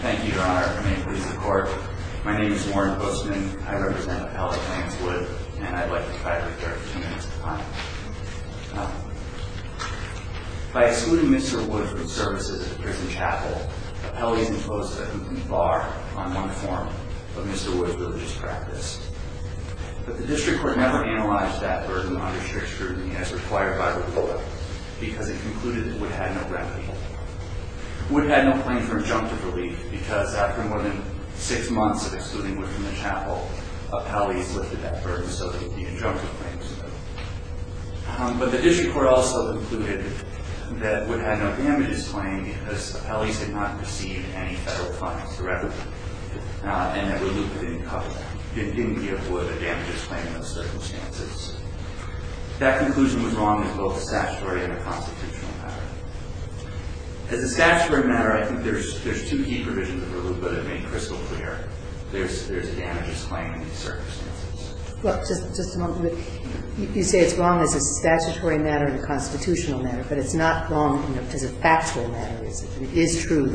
Thank you, Your Honor. May it please the Court, my name is Warren Postman, I represent Appellate Lance Wood, and I'd like to try to recur for two minutes at a time. By excluding Mr. Wood from services at the Pierson Chapel, Appellate is imposed a complete bar on one form of Mr. Wood's religious practice. But the District Court never analyzed that burden under shared scrutiny as required by the court, because it concluded that Wood had no remedy. Wood had no claim for injunctive relief, because after more than six months of excluding Wood from the chapel, Appellate has lifted that burden so that the injunctive claim is removed. But the District Court also concluded that Wood had no damages claim because Appellate did not receive any federal funds for evidence. Not in every loop it didn't cover that. It didn't give Wood a damages claim in those circumstances. That conclusion was wrong in both statutory and the constitutional matter. As a statutory matter, I think there's two key provisions of the loop that have been crystal clear. There's a damages claim in these circumstances. Well, just a moment. You say it's wrong as a statutory matter and a constitutional matter, but it's not wrong as a factual matter, is it? It is true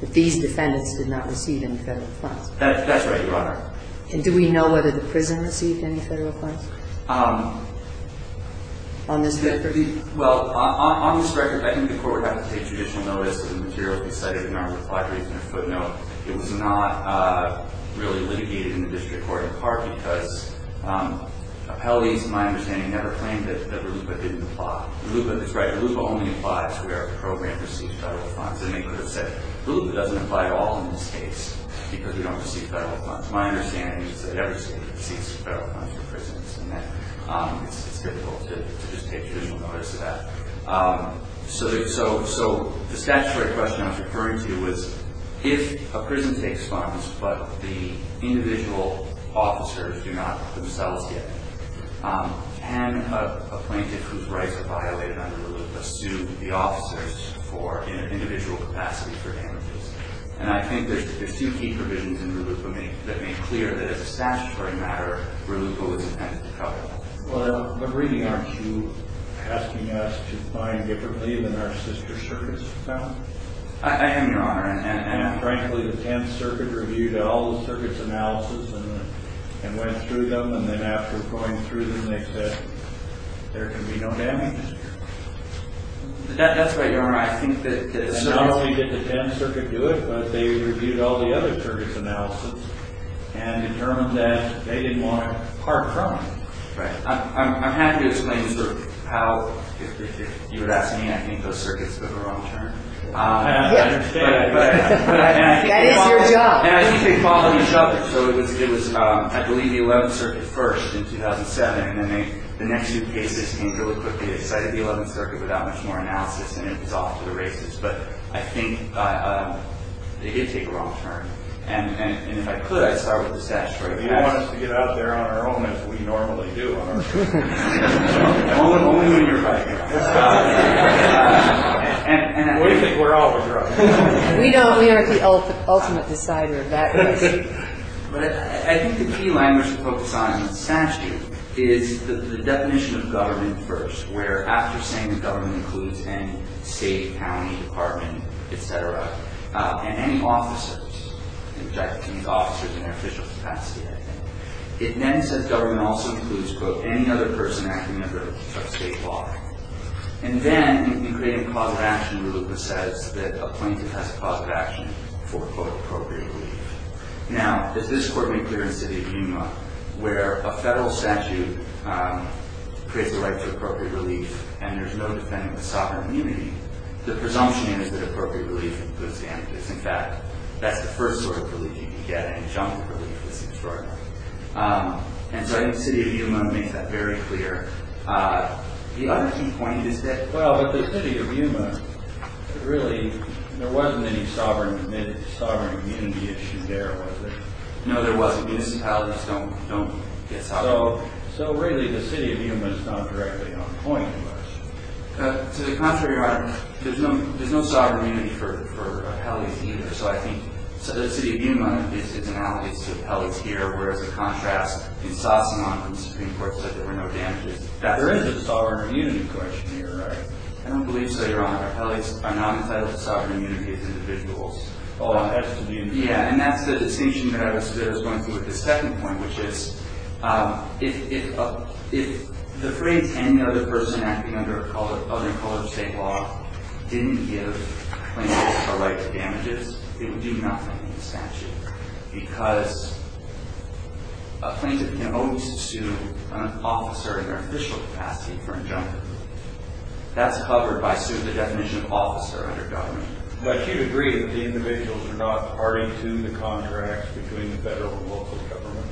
that these defendants did not receive any federal funds. That's right, Your Honor. And do we know whether the prison received any federal funds? On this record? Well, on this record, I think the court would have to take judicial notice of the materials we cited in our reply brief and a footnote. It was not really litigated in the District Court in part because Appellate, to my understanding, never claimed that the loop didn't apply. The loop only applied to where the program received federal funds. And they could have said, the loop doesn't apply to all of the states because we don't receive federal funds. My understanding is that every state receives federal funds for prisons, and that it's difficult to just take judicial notice of that. So the statutory question I was referring to was, if a prison takes funds but the individual officers do not themselves get it, can a plaintiff whose rights are violated under the loop sue the officers in an individual capacity for damages? And I think there's two key provisions in RUPA that make clear that it's a statutory matter where RUPA was intended to cover. Well, but really, aren't you asking us to find differently than our sister circuits found? I am, Your Honor. And frankly, the 10th Circuit reviewed all the circuits' analysis and went through them. And then after going through them, they said, there can be no damages here. That's right, Your Honor. And not only did the 10th Circuit do it, but they reviewed all the other circuits' analysis and determined that they didn't want a part from it. Right. I'm happy to explain how, if you would ask me, I think those circuits took a wrong turn. I understand. That is your job. So it was, I believe, the 11th Circuit first in 2007, and then the next two cases came really quickly. They cited the 11th Circuit without much more analysis, and it was off to the races. But I think they did take a wrong turn. And if I could, I'd start with the statutory matters. You don't want us to get out there on our own as we normally do, do you? Only when you're right. What do you think we're all for, Brooke? We don't. We aren't the ultimate decider of that question. But I think the key language to focus on in the statute is the definition of government first, where after saying that government includes any state, county, department, et cetera, and any officers, which I think means officers in their official capacity, I think, it then says government also includes, quote, any other person acting under a state law. And then you create a clause of action where it says that a plaintiff has a clause of action for, quote, appropriate relief. Now, does this court make clear in the city of Yuma where a federal statute creates a right to appropriate relief and there's no defending the sovereign immunity, the presumption is that appropriate relief includes damages. In fact, that's the first sort of relief you can get, and junk relief is extraordinary. And so I think the city of Yuma makes that very clear. The other key point is that- Well, but the city of Yuma, really, there wasn't any sovereign immunity issue there, was there? No, there wasn't. Municipalities don't get sovereign immunity. So really, the city of Yuma is not directly on point. To the contrary, Your Honor, there's no sovereign immunity for appellees either. So I think the city of Yuma is analogous to appellees here, whereas, in contrast, in Sassemont, when the Supreme Court said there were no damages, that there is a sovereign immunity question here, right? I don't believe so, Your Honor. Appellees are not entitled to sovereign immunity as individuals. Oh, as an individual. Yeah, and that's the distinction that I was going to with the second point, which is, if the phrase, any other person acting under a colored state law didn't give plaintiffs a right to damages, they would do nothing, essentially. Because a plaintiff can only sue an officer in their official capacity for injunction. That's covered by suing the definition of officer under government. But you'd agree that the individuals are not party to the contracts between the federal and local governments?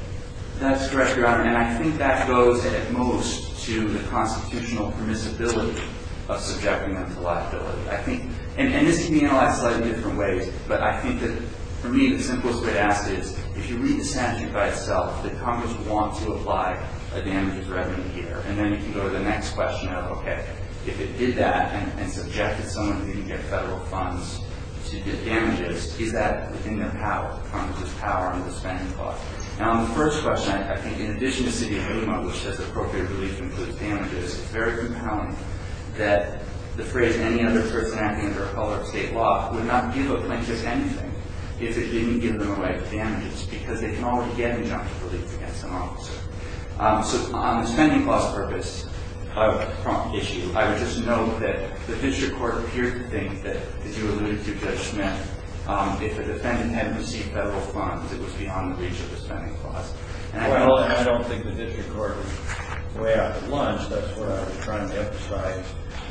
That's correct, Your Honor. And I think that goes, at most, to the constitutional permissibility of subjecting them to liability. And this can be analyzed in slightly different ways. But I think that, for me, the simplest way to ask is, if you read the statute by itself, that Congress wants to apply a damages revenue here, and then you can go to the next question of, OK, if it did that and subjected someone who didn't get federal funds to get damages, is that within the Congress's power under the spending clause? Now, on the first question, I think, in addition to city of Sassemont, which does appropriately include damages, it's very compelling that the phrase, any other person acting under a color of state law, would not give a plaintiff anything if it didn't give them the right damages, because they can already get injunction relief against an officer. So on the spending clause purpose issue, I would just note that the district court appeared to think that, as you alluded to, Judge Smith, if a defendant hadn't received federal funds, it was beyond the reach of the spending clause. Well, I don't think the district court was way out at lunch. That's what I was trying to emphasize.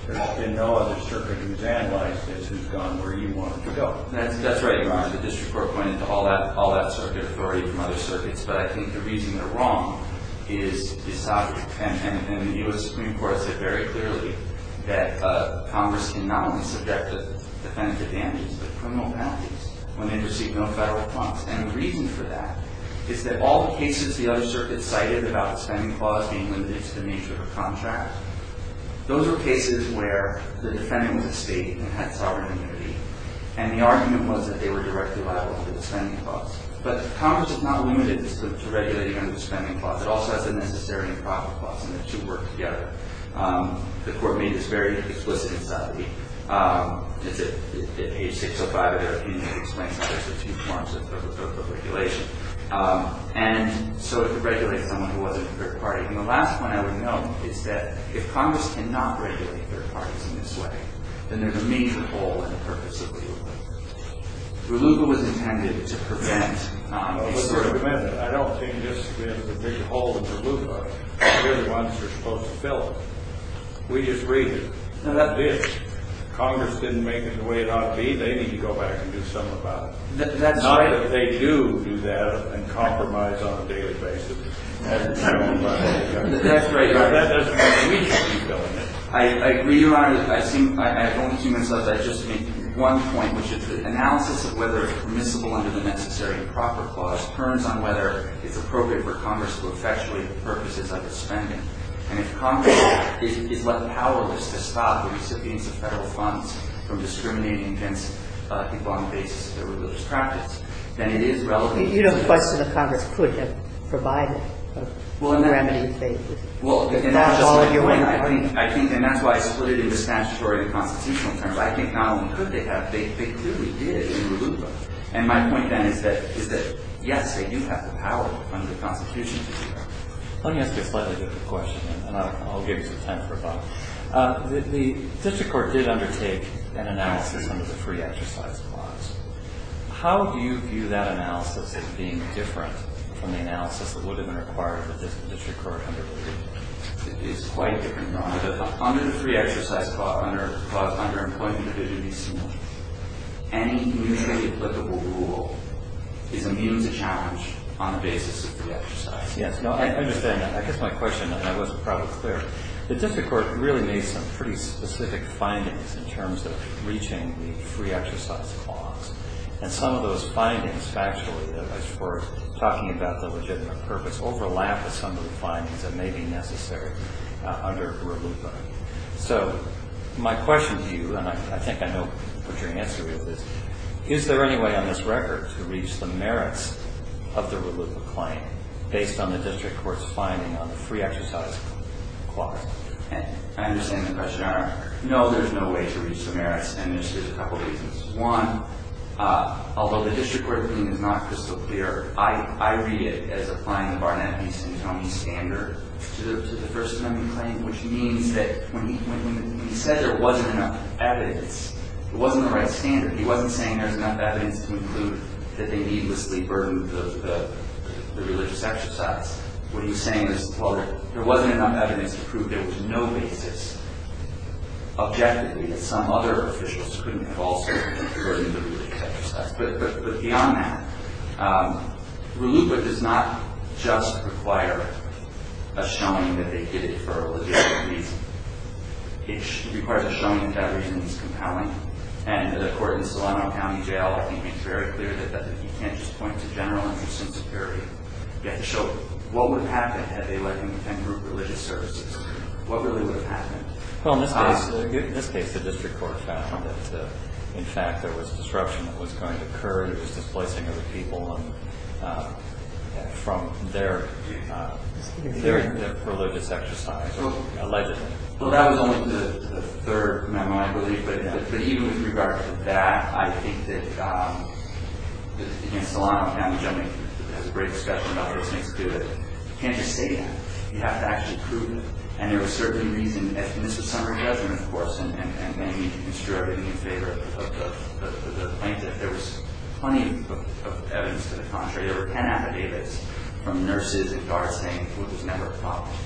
There's been no other circuit examined like this who's gone where you want them to go. That's right, Your Honor. The district court pointed to all that circuit authority from other circuits. But I think the reason they're wrong is disobedient. And the U.S. Supreme Court said very clearly that Congress can not only subject a defendant to damages, but criminal penalties when they receive no federal funds. And the reason for that is that all the cases the other circuits cited about the spending clause being limited to the nature of a contract, those were cases where the defendant was a state and had sovereign immunity. And the argument was that they were directly liable for the spending clause. But Congress is not limited to regulating under the spending clause. It also has the necessity and profit clause, and the two work together. The court made this very explicit in Southerby. It's at page 605 of their opinion. It explains how there's the two forms of regulation. And so it could regulate someone who wasn't a third party. And the last one I would note is that if Congress can not regulate third parties in this way, then there's a major hole in the purpose of the rulebook. The rulebook was intended to prevent a certain- It was intended to prevent it. I don't think there's a big hole in the rulebook. They're the ones who are supposed to fill it. We just read it. Congress didn't make it the way it ought to be. They need to go back and do something about it. Not that they do do that and compromise on a daily basis. I agree, Your Honor. I only came in because I just made one point, which is the analysis of whether it's permissible under the necessary and proper clause turns on whether it's appropriate for Congress to effectuate the purposes of the spending. And if Congress is left powerless to stop the recipients of federal funds from discriminating against people on the basis of their religious practice, then it is relevant- You don't question that Congress could have provided a remedy if they- Well, and that's why I split it into statutory and constitutional terms. I think not only could they have, they clearly did in the rulebook. And my point then is that, yes, they do have the power under the Constitution to do that. Let me ask you a slightly different question, and I'll give you some time for thought. The district court did undertake an analysis under the free exercise clause. How do you view that analysis as being different from the analysis that would have been required for the district court under the rulebook? It is quite different, Your Honor. Under the free exercise clause, under Employment Abilities, any mutually applicable rule is immune to challenge on the basis of free exercise. Yes, no, I understand that. I guess my question, and I wasn't proud or clear, the district court really made some pretty specific findings in terms of reaching the free exercise clause. And some of those findings, factually, as far as talking about the legitimate purpose, overlap with some of the findings that may be necessary under the rulebook. So my question to you, and I think I know what your answer is, is there any way on this record to reach the merits of the rulebook claim based on the district court's finding on the free exercise clause? I understand the question, Your Honor. No, there's no way to reach the merits, and there's a couple of reasons. One, although the district court opinion is not crystal clear, I read it as applying the Barnett v. St. Tony standard to the First Amendment claim, which means that when he said there wasn't enough evidence, it wasn't the right standard. He wasn't saying there's enough evidence to conclude that they needlessly burdened the religious exercise. What he was saying was, well, there wasn't enough evidence to prove there was no basis, objectively, that some other officials couldn't have also burdened the religious exercise. But beyond that, the rulebook does not just require a showing that they did it for a religious reason. It requires a showing that that reason is compelling. And the court in Solano County Jail, I think, made very clear that you can't just point to general interest in security. You have to show what would have happened had they let him attend group religious services. What really would have happened? Well, in this case, the district court found that, in fact, there was disruption that was going to occur. He was displacing other people from their religious exercise, allegedly. Well, that was only the third memo, I believe. But even with regard to that, I think that against Solano County, which I think has a great discussion about what this makes good, you can't just say that. You have to actually prove it. And there was certainly reason. And this was summary judgment, of course, and they need to construe everything in favor of the plaintiff. There was plenty of evidence to the contrary. There were 10 affidavits from nurses and guards saying there was a number of problems.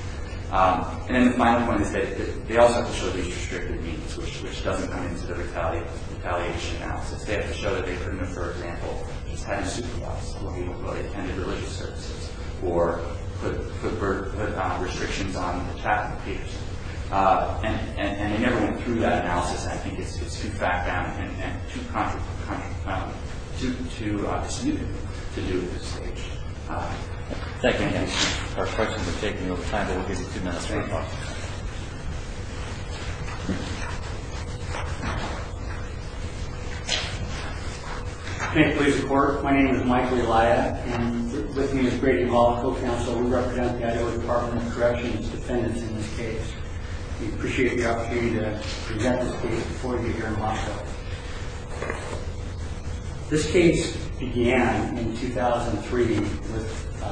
And then the final point is they also have to show these restricted meetings, which doesn't come into the retaliation analysis. They have to show that they couldn't have, for example, just had a superviolence where people attended religious services or put restrictions on the chapel of Peterson. And they never went through that analysis. I think it's too fat bound and too disnutting to do at this stage. Thank you again. Our questions are taking over time, but we'll give you two minutes for any questions. Thank you for your support. My name is Mike Relaya, and with me is Brady Malico, counsel who represents the Idaho Department of Corrections, defendants in this case. This case began in 2003 with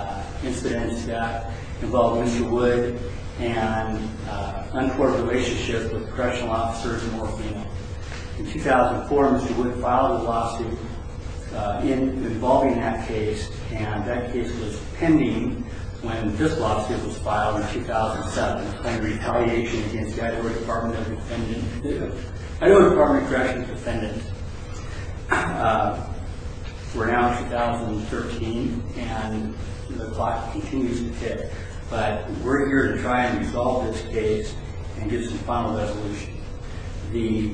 incidents that involved Mr. Wood and an uncoordinated relationship with correctional officers and morphine. In 2004, Mr. Wood filed a lawsuit involving that case, and that case was pending when this lawsuit was filed in 2007 on retaliation against the Idaho Department of Defendants. The Idaho Department of Corrections defendants were announced in 2013, and the clock continues to tick, but we're here to try and resolve this case and get some final resolution. This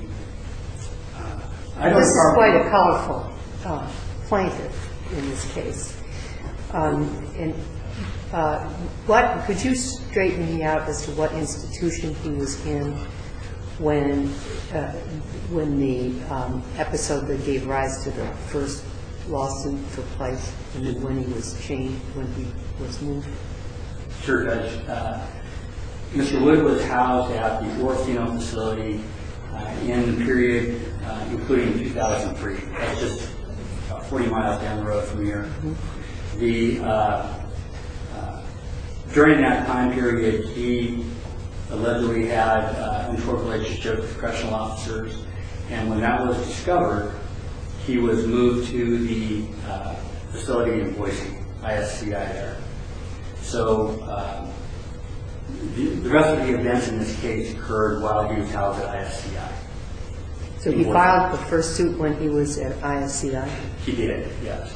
is quite a powerful plaintiff in this case. And what, could you straighten me out as to what institution he was in when the episode that gave rise to the first lawsuit took place and then when he was chained, when he was moved? Sure, Judge. Mr. Wood was housed at the orthodontic facility in the period including 2003. That's just 40 miles down the road from here. During that time period, he allegedly had an untoward relationship with correctional officers, and when that was discovered, he was moved to the facility in Boise, ISCI there. So the rest of the events in this case occurred while he was housed at ISCI. So he filed the first suit when he was at ISCI? He did, yes.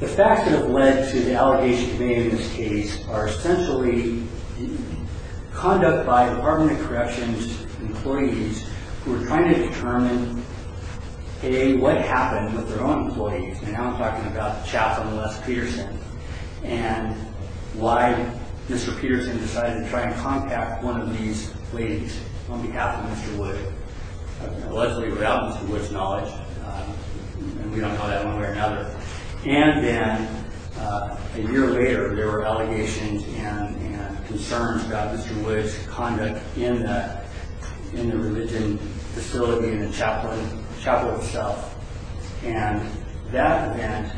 The facts that have led to the allegations made in this case are essentially conduct by Department of Corrections employees who are trying to determine, A, what happened with their own employees, and now I'm talking about Chaplain Les Peterson, and why Mr. Peterson decided to try and contact one of these ladies on behalf of Mr. Wood. Allegedly without Mr. Wood's knowledge. We don't know that one way or another. And then a year later, there were allegations and concerns about Mr. Wood's conduct in the religion facility in the chapel itself. And that event,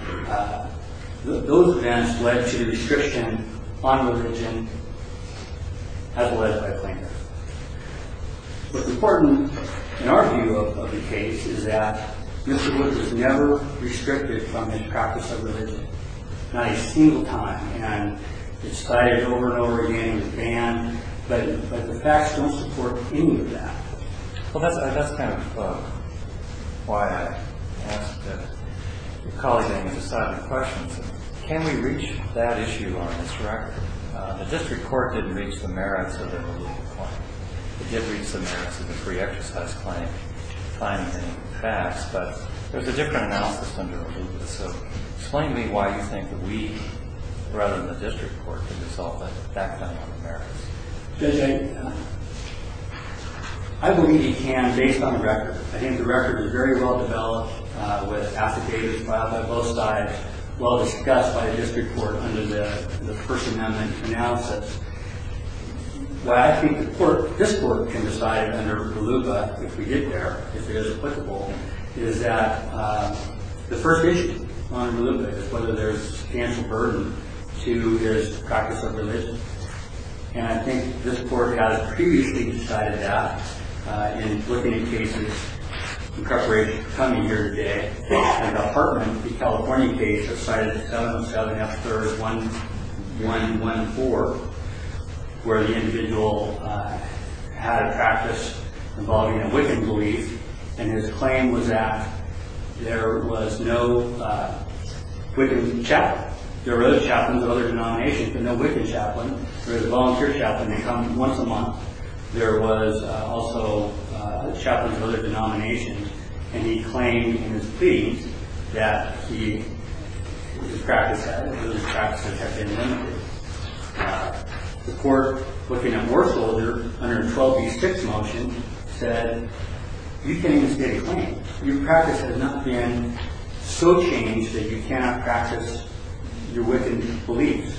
those events led to the restriction on religion as led by a plaintiff. What's important, in our view of the case, is that Mr. Wood was never restricted from his practice of religion. Not a single time. And it was cited over and over again, it was banned, but the facts don't support any of that. Well, that's kind of why I asked your colleagues on the other side of the question. Can we reach that issue on this record? The district court didn't reach the merits of an illegal claim. It did reach the merits of the free exercise claim. The claim didn't pass, but there's a different analysis under illegalism. Explain to me why you think that we, rather than the district court, can resolve that kind of merits. Judge, I believe you can, based on the record. I think the record is very well-developed, with affidavits filed by both sides, well-discussed by the district court under the First Amendment analysis. Why I think the court, this court, can decide under RLUIPA, if we get there, if it is applicable, is that the first issue on RLUIPA is whether there's substantial burden to his practice of religion. And I think this court has previously decided that, in looking at cases, in preparation for coming here today. In the Hartman v. California case, cited 707 F. 3rd 1114, where the individual had a practice involving a Wiccan belief, and his claim was that there was no Wiccan chaplain. There were other chaplains of other denominations, but no Wiccan chaplain. There was a volunteer chaplain. They come once a month. There was also chaplains of other denominations. And he claimed in his plea that his practice had been limited. The court, looking at Warshel under 12b. 6 motion, said, you can't even state a claim. Your practice has not been so changed that you cannot practice your Wiccan beliefs.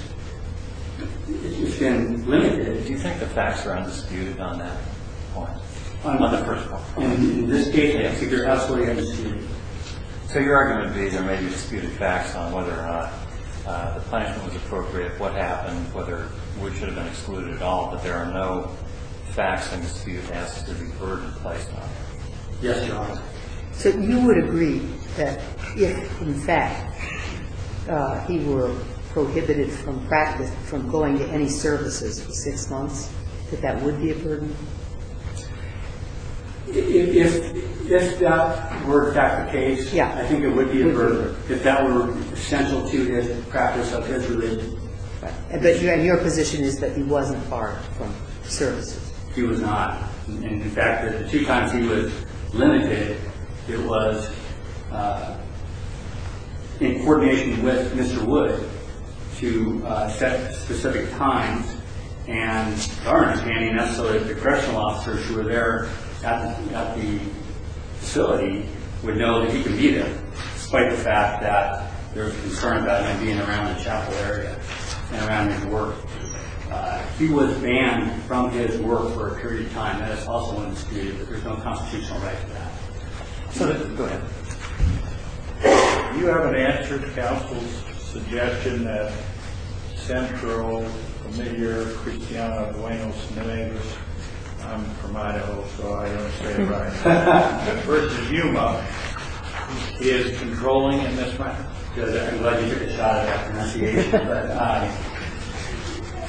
It's been limited. Do you think the facts are undisputed on that point? On the first point. In this case, they are absolutely undisputed. So your argument would be there may be disputed facts on whether or not the punishment was appropriate, what happened, whether Wood should have been excluded at all, but there are no facts undisputed, as to the burden placed on him. Yes, Your Honor. So you would agree that if, in fact, he were prohibited from practice, from going to any services for six months, that that would be a burden? If that were in fact the case, I think it would be a burden. If that were central to his practice of his religion. But your position is that he wasn't barred from services. He was not. And in fact, the two times he was limited, it was in coordination with Mr. Wood to set specific times and guards, any and necessarily the correctional officers who were there at the facility, would know that he could be there, despite the fact that there was a concern about him being around the chapel area and around in the work. If he was banned from his work for a period of time, that is also undisputed, but there's no constitutional right to that. Go ahead. Do you have an answer to counsel's suggestion that central, familiar, Cristiano Buenos Nieves, I'm from Idaho, so I don't say it right, versus you, Mother, is controlling in this matter? I'm glad you took a shot at my pronunciation.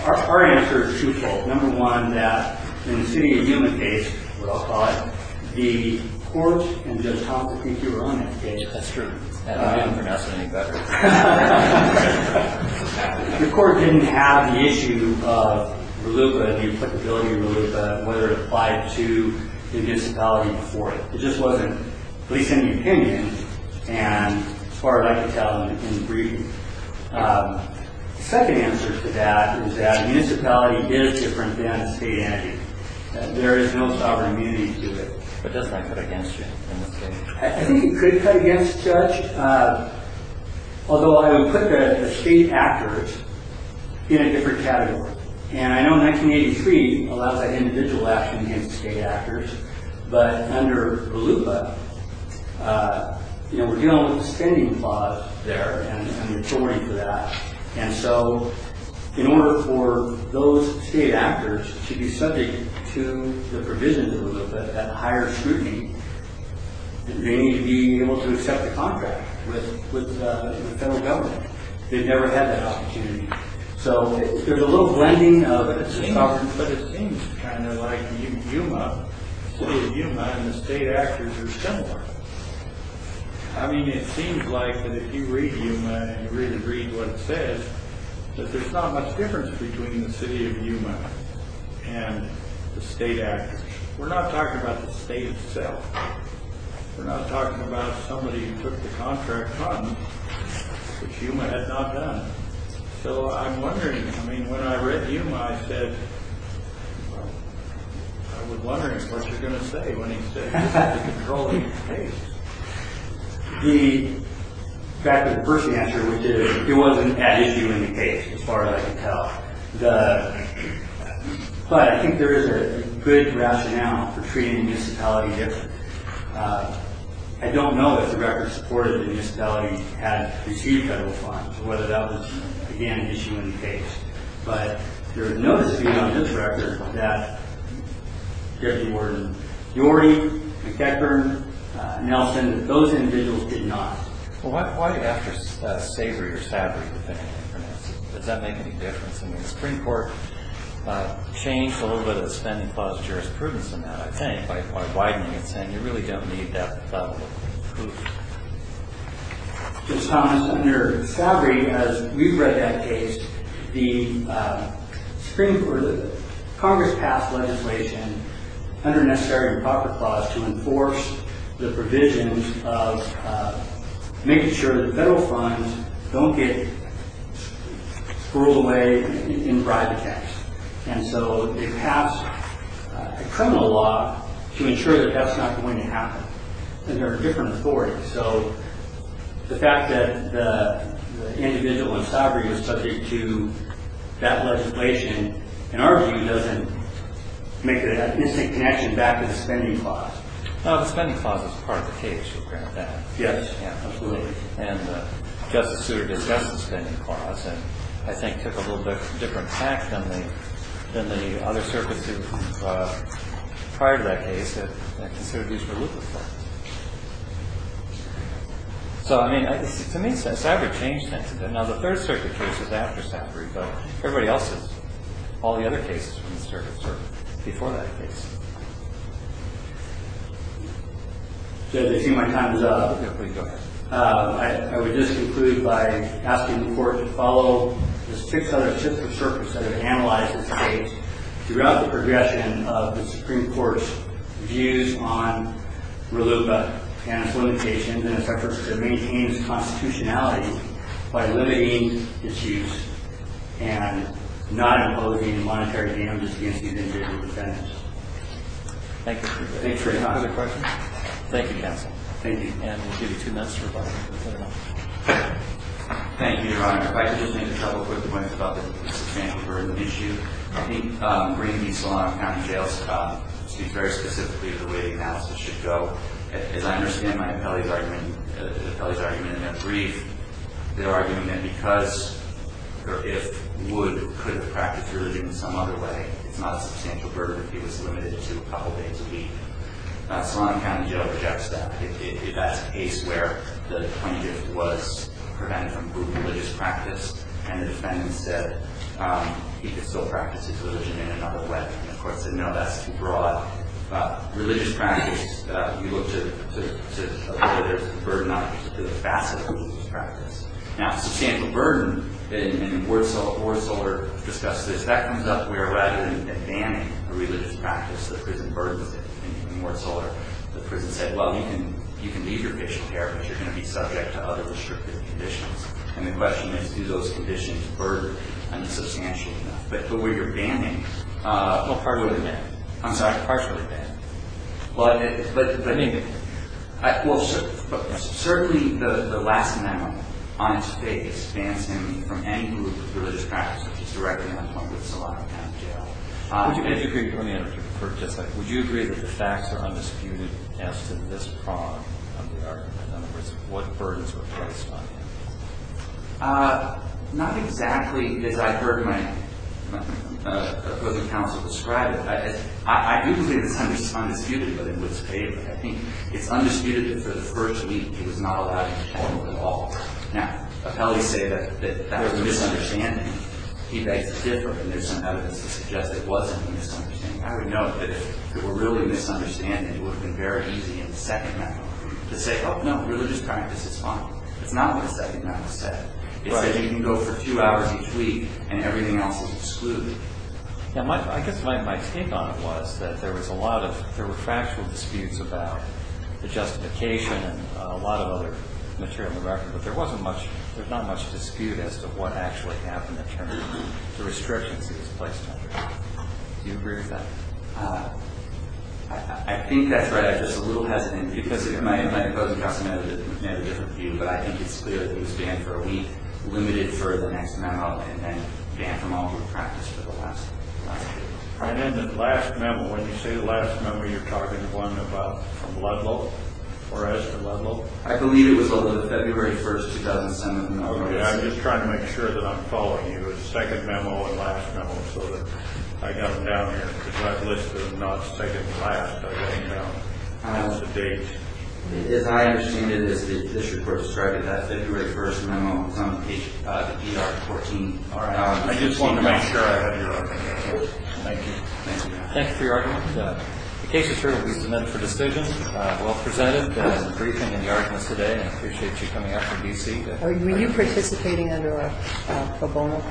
Our answer is truthful. Number one, that in the city of human case, what I'll call it, the court can just conflict with your own education. That's true. I don't think that's any better. The court didn't have the issue of reluca, the applicability of reluca, and whether it applied to the municipality before it. It just wasn't, at least in the opinion, and as far as I can tell, in the briefing. The second answer to that is that a municipality is different than a state entity. There is no sovereign immunity to it. But doesn't that cut against you in this case? I think it could cut against Judge, although I would put the state actors in a different category. And I know 1983 allows that individual action against state actors, but under reluca, we're getting on with the spending clause there and the authority for that. And so in order for those state actors to be subject to the provision of reluca, that higher scrutiny, they need to be able to accept the contract with the federal government. They've never had that opportunity. So there's a little blending of it. But it seems kind of like Yuma, the city of Yuma and the state actors are similar. I mean, it seems like that if you read Yuma and you really read what it says, that there's not much difference between the city of Yuma and the state actors. We're not talking about the state itself. We're not talking about somebody who took the contract funds, which Yuma had not done. So I'm wondering, I mean, when I read Yuma, I said, I was wondering what you were going to say when he said he was controlling the case. The fact of the first answer, which is it wasn't an issue in the case, as far as I can tell. But I think there is a good rationale for treating the municipality differently. I don't know if the record supported the municipality had received federal funds or whether that was, again, an issue in the case. But there is no dispute on this record that Deputy Warden Yorty, McEachern, Nelson, those individuals did not. Well, why after Savory or Savory did they not pronounce it? Does that make any difference? I mean, the Supreme Court changed a little bit of the spending clause of jurisprudence in that, I think, by widening it, saying you really don't need that level of proof. Ms. Thomas, under Savory, as we've read that case, the Congress passed legislation under a necessary improper clause to enforce the provisions of making sure that federal funds don't get squirreled away in bribe attacks. And so they passed a criminal law to ensure that that's not going to happen. And there are different authorities. So the fact that the individual in Savory was subject to that legislation, in our view, doesn't make an instant connection back to the spending clause. The spending clause is part of the case, to be fair to that. Yes, absolutely. And Justice Souter discussed the spending clause and, I think, took a little bit different tact than the other circuits prior to that case that are considered due for loop effect. So, I mean, to me, Savory changed that. Now, the Third Circuit case is after Savory, but everybody else's, all the other cases from the circuits are before that case. So as I see my time is up, I would just conclude by asking the Court to follow the six other different circuits that have been analyzed in this case throughout the progression of the Supreme Court's views on RLUIPA and its limitations and its efforts to maintain its constitutionality by limiting its use and not imposing monetary damages against the individual defendants. Thank you. Any other questions? Thank you, counsel. Thank you. And we'll give you two minutes for questions. Thank you, Your Honor. If I could just make a couple quick points about the substantial burden issue. I think bringing these Solano County Jails speaks very specifically to the way the analysis should go. As I understand my appellee's argument, the appellee's argument in that brief, their argument that because, or if, would, could have practiced religion in some other way, it's not a substantial burden if it was limited to a couple days a week. Solano County Jail rejects that. If that's a case where the plaintiff was prevented from improving religious practice and the defendant said he could still practice his religion in another way, the court said, no, that's too broad. Religious practice, you look to the burden on the facet of religious practice. Now, substantial burden, and Ward-Solder discussed this, that comes up where rather than banning a religious practice, the prison burdens it. In Ward-Solder, the prison said, well, you can leave your patient care, but you're going to be subject to other restrictive conditions. And the question is, do those conditions burden him substantially enough? But the way you're banning him. Well, partially banned. I'm sorry? Partially banned. But I mean, well, certainly the last amendment, on its face, bans him from any group of religious practice which is directly in line with Solano County Jail. Would you agree, let me interrupt you for just a second. Would you agree that the facts are undisputed as to this prong of the argument, in other words, what burdens were placed on him? Not exactly, as I heard my opposing counsel describe it. I do believe it's undisputed, but it was paved. I think it's undisputed that for the first week, he was not allowed to perform at all. Now, appellees say that that was a misunderstanding. He makes it different. And there's some evidence to suggest that it wasn't a misunderstanding. I would note that if it were really a misunderstanding, it would have been very easy in the second amendment to say, oh, no, religious practice is fine. It's not what the second amendment said. It says you can go for two hours each week and everything else is excluded. Yeah, I guess my take on it was that there was a lot of, there were factual disputes about the justification and a lot of other material in the record. But there wasn't much, there's not much dispute as to what actually happened in terms of the restrictions he was placed under. Do you agree with that? I think that's right. I'm just a little hesitant because it might have been a different view, but I think it's clear that he was banned for a week, limited for the next memo, and then banned from all group practice for the last week. And then the last memo, when you say the last memo, you're talking to one from Ludlow or Esther Ludlow? I believe it was a little bit February 1st, 2007. I'm just trying to make sure that I'm following you with the second memo and last memo so that I got them down here. Because my list is not second to last, but I think that I'm past the date. As I understand it, this report described it as February 1st memo from the ER 14. I just wanted to make sure I had your opinion. Thank you. Thank you for your argument. The case is here to be submitted for decision. Well presented. There was a briefing in the argument today. I appreciate you coming out from D.C. Were you participating under a bonus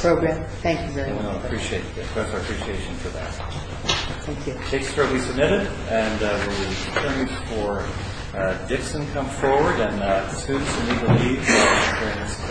program? Yes. Thank you very much. We appreciate it. We express our appreciation for that. Thank you. The case is here to be submitted. And we'll wait for Dixon to come forward. And students in legal aid will be transferred.